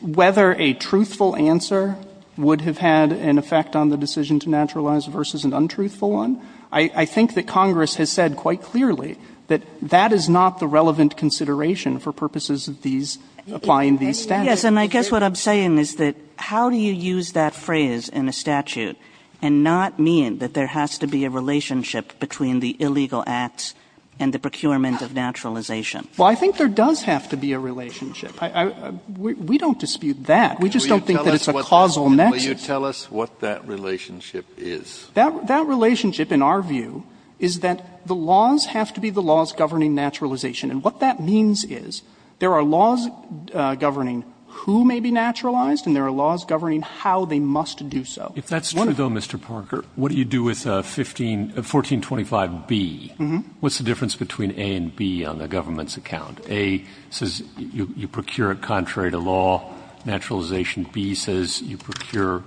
Whether a truthful answer would have had an effect on the decision to naturalize versus an untruthful one, I think that Congress has said quite clearly that that is not the relevant consideration for purposes of these — applying these statutes. Yes, and I guess what I'm saying is that how do you use that phrase in a statute and not mean that there has to be a relationship between the illegal acts and the procurement of naturalization? Well, I think there does have to be a relationship. I — we don't dispute that. We just don't think that it's a causal mechanism. Will you tell us what that relationship is? That relationship, in our view, is that the laws have to be the laws governing naturalization. And what that means is there are laws governing who may be naturalized and there are laws governing how they must do so. If that's true, though, Mr. Parker, what do you do with 1425B? What's the difference between A and B on the government's account? A says you procure it contrary to law, naturalization. B says you procure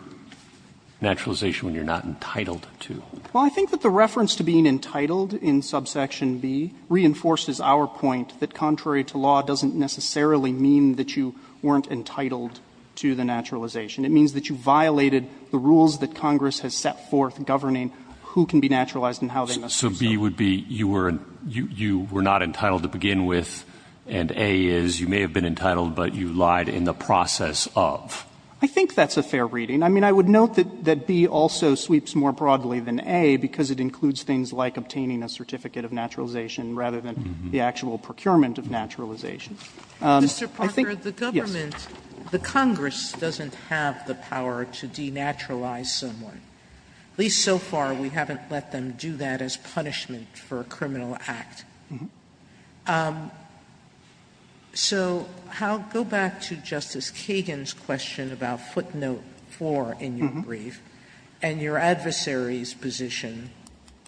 naturalization when you're not entitled to. Well, I think that the reference to being entitled in subsection B reinforces our point that contrary to law doesn't necessarily mean that you weren't entitled to the naturalization. It means that you violated the rules that Congress has set forth governing who can be naturalized and how they must do so. So B would be you were — you were not entitled to begin with, and A is you may have been entitled but you lied in the process of. I think that's a fair reading. I mean, I would note that B also sweeps more broadly than A because it includes things like obtaining a certificate of naturalization rather than the actual procurement of naturalization. I think — Sotomayor, the government, the Congress doesn't have the power to denaturalize someone. At least so far we haven't let them do that as punishment for a criminal act. So go back to Justice Kagan's question about footnote 4 in your brief and your adversary's position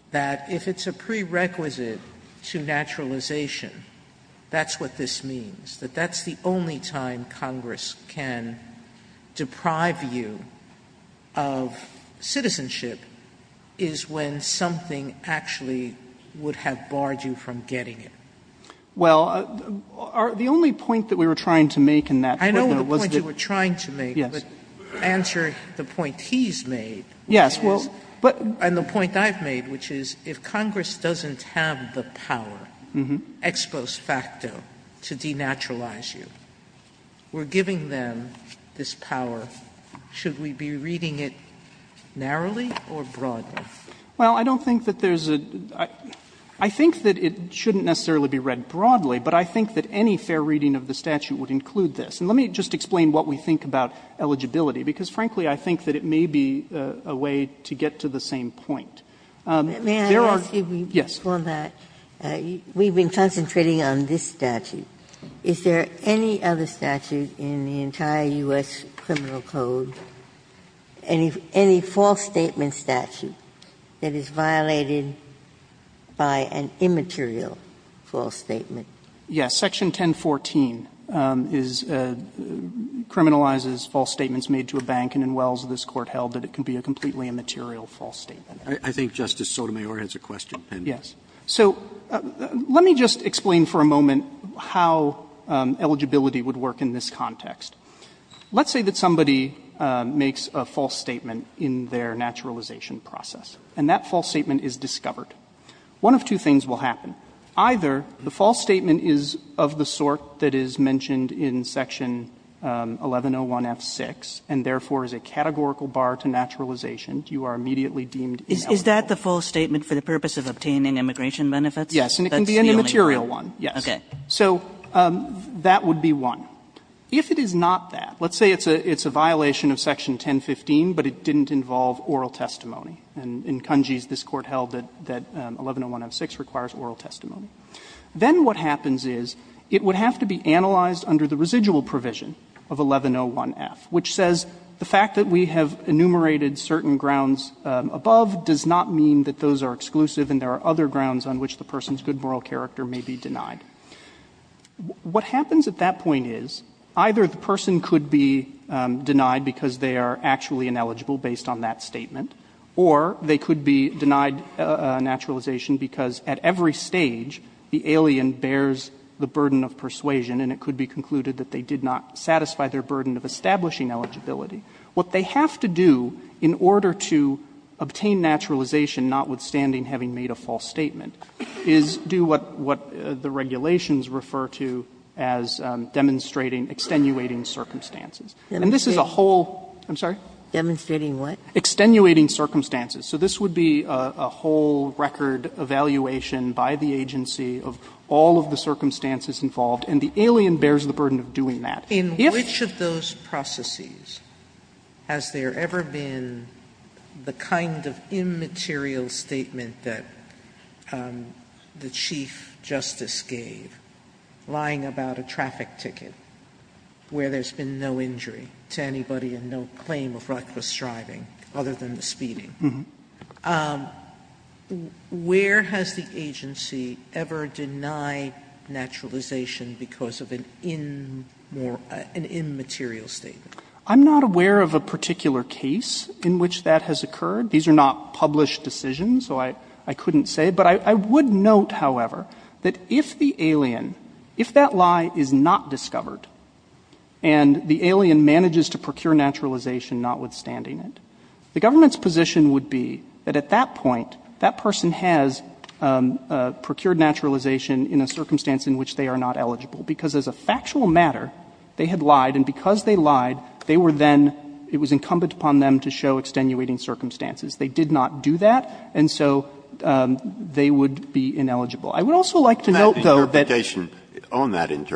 that if it's a prerequisite to naturalization, that's what this means, that that's the only time Congress can deprive you of citizenship is when something actually would have barred you from getting it. Well, the only point that we were trying to make in that footnote was that — I know the point you were trying to make, but answer the point he's made. Yes. And the point I've made, which is if Congress doesn't have the power ex post facto to denaturalize you, we're giving them this power. Should we be reading it narrowly or broadly? Well, I don't think that there's a — I think that it shouldn't necessarily be read broadly, but I think that any fair reading of the statute would include this. And let me just explain what we think about eligibility because, frankly, I think that it may be a way to get to the same point. There are — May I ask you before that? Yes. We've been concentrating on this statute. Is there any other statute in the entire U.S. criminal code, any false statement statute that is violated by an immaterial false statement? Yes. Section 1014 is — criminalizes false statements made to a bank, and in Wells, this Court held that it can be a completely immaterial false statement. I think Justice Sotomayor has a question. Yes. So let me just explain for a moment how eligibility would work in this context. Let's say that somebody makes a false statement in their naturalization process, and that false statement is discovered. One of two things will happen. Either the false statement is of the sort that is mentioned in section 1101F6, and therefore is a categorical bar to naturalization. You are immediately deemed ineligible. Is that the false statement for the purpose of obtaining immigration benefits? Yes. And it can be an immaterial one, yes. Okay. So that would be one. If it is not that, let's say it's a violation of section 1015, but it didn't involve oral testimony. And in Kunji's, this Court held that 1101F6 requires oral testimony. Then what happens is it would have to be analyzed under the residual provision of 1101F, which says the fact that we have enumerated certain grounds above does not mean that those are exclusive and there are other grounds on which the person's good moral character may be denied. What happens at that point is either the person could be denied because they are actually ineligible based on that statement, or they could be denied naturalization because at every stage the alien bears the burden of persuasion and it could be concluded that they did not satisfy their burden of establishing eligibility. What they have to do in order to obtain naturalization, notwithstanding having made a false statement, is do what the regulations refer to as demonstrating extenuating circumstances. And this is a whole ---- I'm sorry? Demonstrating what? Extenuating circumstances. So this would be a whole record evaluation by the agency of all of the circumstances involved, and the alien bears the burden of doing that. If ---- Sotomayor, in which of those processes has there ever been the kind of immaterial statement that the Chief Justice gave, lying about a traffic ticket where there's been no injury to anybody and no claim of reckless driving other than the speeding? Where has the agency ever denied naturalization because of an immaterial statement? I'm not aware of a particular case in which that has occurred. These are not published decisions, so I couldn't say. But I would note, however, that if the alien, if that lie is not discovered and the alien manages to procure naturalization, notwithstanding it, the government's position would be that at that point, that person has procured naturalization in a circumstance in which they are not eligible, because as a factual matter, they had lied, and because they lied, they were then ---- it was incumbent upon them to show extenuating circumstances. They did not do that, and so they would be ineligible. I would also like to note, though, that ---- Breyer. I would like to note,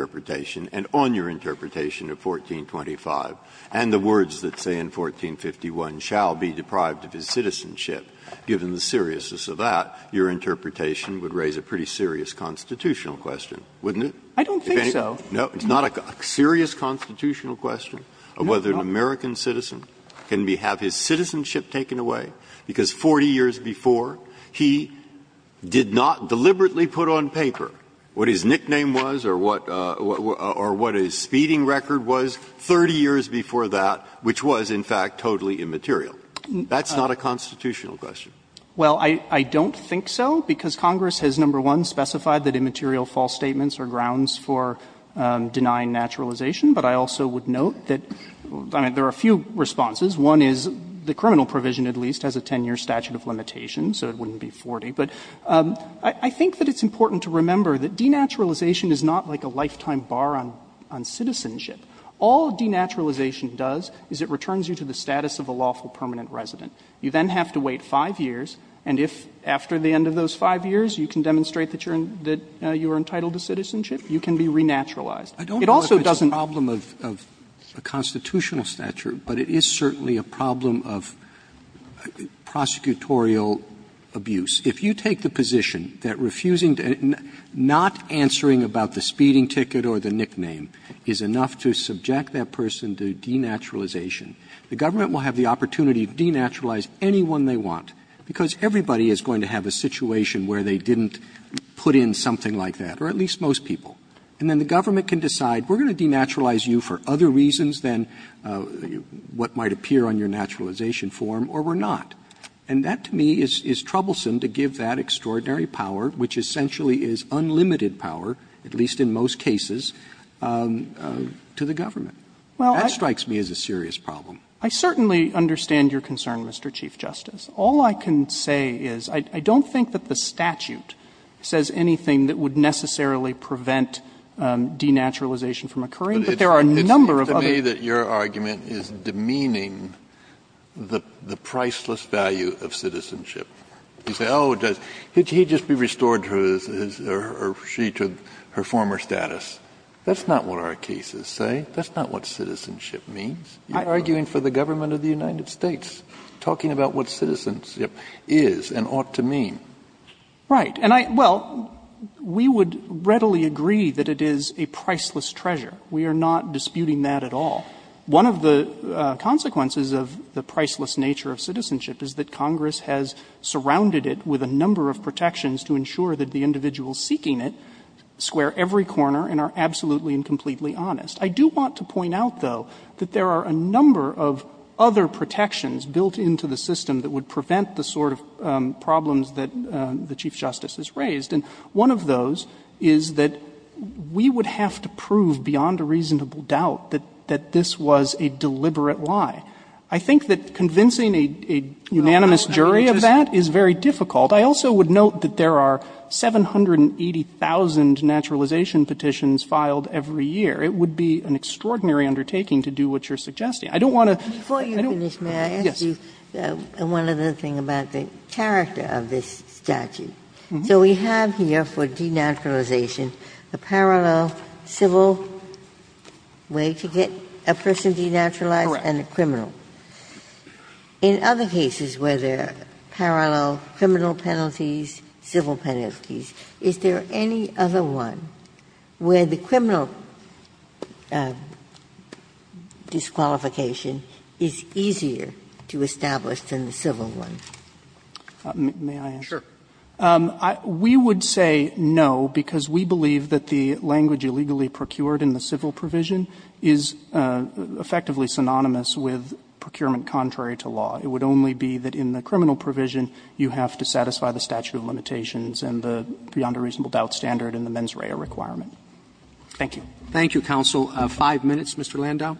though, that given the seriousness of your interpretation of 1425 and the words that say in 1451, shall be deprived of his citizenship, given the seriousness of that, your interpretation would raise a pretty serious constitutional question, wouldn't it? I don't think so. No. It's not a serious constitutional question of whether an American citizen can have his citizenship taken away, because 40 years before, he did not deliberately put on paper what his nickname was or what his speeding record was, 30 years before that, which was, in fact, totally immaterial. That's not a constitutional question. Well, I don't think so, because Congress has, number one, specified that immaterial false statements are grounds for denying naturalization, but I also would note that ---- I mean, there are a few responses. One is the criminal provision, at least, has a 10-year statute of limitation, so it wouldn't be 40. But I think that it's important to remember that denaturalization is not like a lifetime bar on citizenship. All denaturalization does is it returns you to the status of a lawful permanent resident. You then have to wait 5 years, and if after the end of those 5 years you can demonstrate that you're entitled to citizenship, you can be renaturalized. It also doesn't ---- Roberts I don't know if it's a problem of a constitutional statute, but it is certainly a problem of prosecutorial abuse. If you take the position that refusing to ---- not answering about the speeding ticket or the nickname is enough to subject that person to denaturalization, the government will have the opportunity to denaturalize anyone they want, because everybody is going to have a situation where they didn't put in something like that, or at least most people. And then the government can decide, we're going to denaturalize you for other reasons than what might appear on your naturalization form, or we're not. And that, to me, is troublesome to give that extraordinary power, which essentially is unlimited power, at least in most cases, to the government. That strikes me as a serious problem. I certainly understand your concern, Mr. Chief Justice. All I can say is, I don't think that the statute says anything that would necessarily prevent denaturalization from occurring, but there are a number of other ---- Kennedy It seems to me that your argument is demeaning the priceless value of citizenship. You say, oh, it does. He'd just be restored to his or she to her former status. That's not what our cases say. That's not what citizenship means. You're arguing for the government of the United States, talking about what citizenship is and ought to mean. Right. And I ---- well, we would readily agree that it is a priceless treasure. We are not disputing that at all. One of the consequences of the priceless nature of citizenship is that Congress has surrounded it with a number of protections to ensure that the individuals seeking it square every corner and are absolutely and completely honest. I do want to point out, though, that there are a number of other protections built into the system that would prevent the sort of problems that the Chief Justice has raised. And one of those is that we would have to prove beyond a reasonable doubt that this was a deliberate lie. I think that convincing a unanimous jury of that is very difficult. I also would note that there are 780,000 naturalization petitions filed every year. It would be an extraordinary undertaking to do what you're suggesting. I don't want to ---- Ginsburg. Before you finish, may I ask you one other thing about the character of this statute? So we have here for denaturalization a parallel civil way to get a person denaturalized and a criminal. In other cases where there are parallel criminal penalties, civil penalties, is there any other one where the criminal disqualification is easier to establish than the civil one? May I answer? Sure. We would say no, because we believe that the language illegally procured in the civil provision is effectively synonymous with procurement contrary to law. It would only be that in the criminal provision you have to satisfy the statute of limitations and the beyond a reasonable doubt standard and the mens rea requirement. Thank you. Thank you, counsel. Five minutes. Mr. Landau.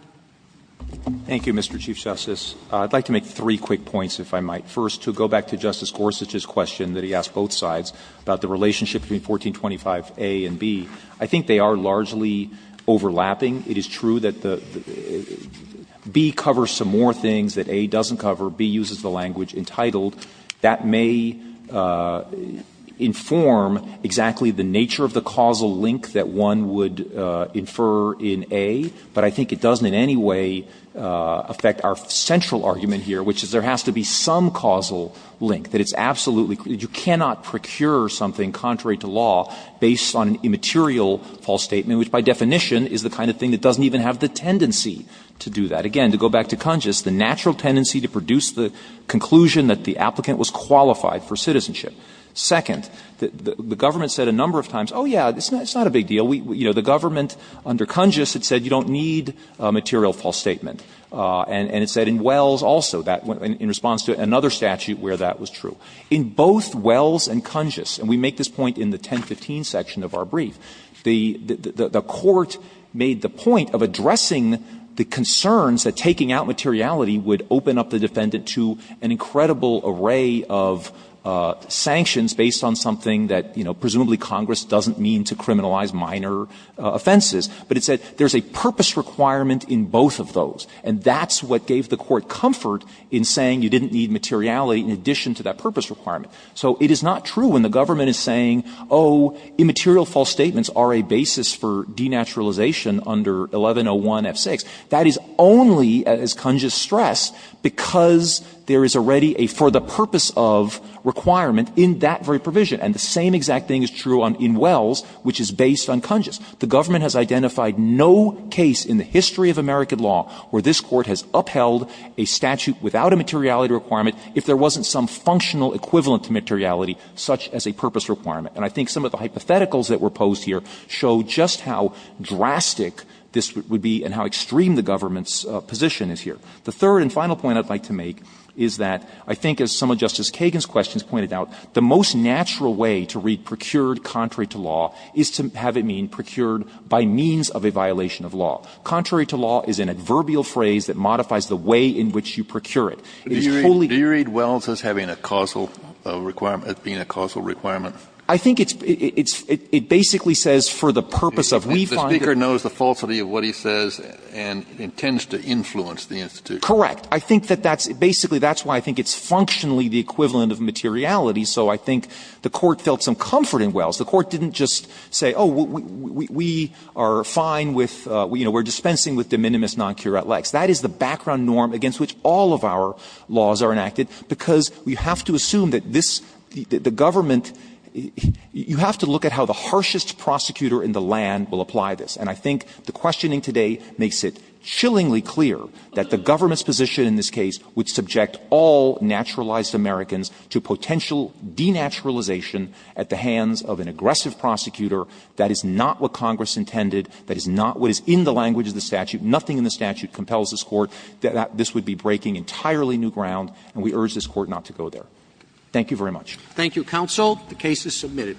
Thank you, Mr. Chief Justice. I'd like to make three quick points, if I might. First, to go back to Justice Gorsuch's question that he asked both sides about the relationship between 1425a and b, I think they are largely overlapping. It is true that the ---- b covers some more things that a doesn't cover. b uses the language entitled. That may inform exactly the nature of the causal link that one would infer in a, but I think it doesn't in any way affect our central argument here, which is there has to be some causal link, that it's absolutely ---- you cannot procure something contrary to law based on an immaterial false statement, which by definition is the kind of thing that doesn't even have the tendency to do that. Again, to go back to Kunjus, the natural tendency to produce the conclusion that the applicant was qualified for citizenship. Second, the government said a number of times, oh, yeah, it's not a big deal. We ---- you know, the government under Kunjus had said you don't need a material false statement. And it said in Wells also that in response to another statute where that was true. In both Wells and Kunjus, and we make this point in the 1015 section of our brief, the court made the point of addressing the concerns that taking out materiality would open up the defendant to an incredible array of sanctions based on something that, you know, presumably Congress doesn't mean to criminalize minor offenses. But it said there's a purpose requirement in both of those. And that's what gave the court comfort in saying you didn't need materiality in addition to that purpose requirement. So it is not true when the government is saying, oh, immaterial false statements are a basis for denaturalization under 1101F6. That is only, as Kunjus stressed, because there is already a for-the-purpose-of requirement in that very provision. And the same exact thing is true in Wells, which is based on Kunjus. The government has identified no case in the history of American law where this Court has upheld a statute without a materiality requirement if there wasn't some functional equivalent to materiality such as a purpose requirement. And I think some of the hypotheticals that were posed here show just how drastic this would be and how extreme the government's position is here. The third and final point I'd like to make is that I think, as some of Justice Kagan's questions pointed out, the most natural way to read procured contrary to law is to have it mean procured by means of a violation of law. Contrary to law is an adverbial phrase that modifies the way in which you procure it. It's fully ---- Kennedy, do you read Wells as having a causal requirement, as being a causal requirement? I think it's ---- it basically says for the purpose of we find it ---- The Speaker knows the falsity of what he says and intends to influence the institution. Correct. I think that that's ---- basically, that's why I think it's functionally the equivalent of materiality. So I think the Court felt some comfort in Wells. The Court didn't just say, oh, we are fine with, you know, we're dispensing with de minimis non curat lex. That is the background norm against which all of our laws are enacted, because we have to assume that this ---- the government ---- you have to look at how the harshest prosecutor in the land will apply this. And I think the questioning today makes it chillingly clear that the government's position in this case would subject all naturalized Americans to potential denaturalization at the hands of an aggressive prosecutor. That is not what Congress intended. That is not what is in the language of the statute. Nothing in the statute compels this Court that this would be breaking entirely new ground, and we urge this Court not to go there. Thank you very much. Thank you, counsel. The case is submitted.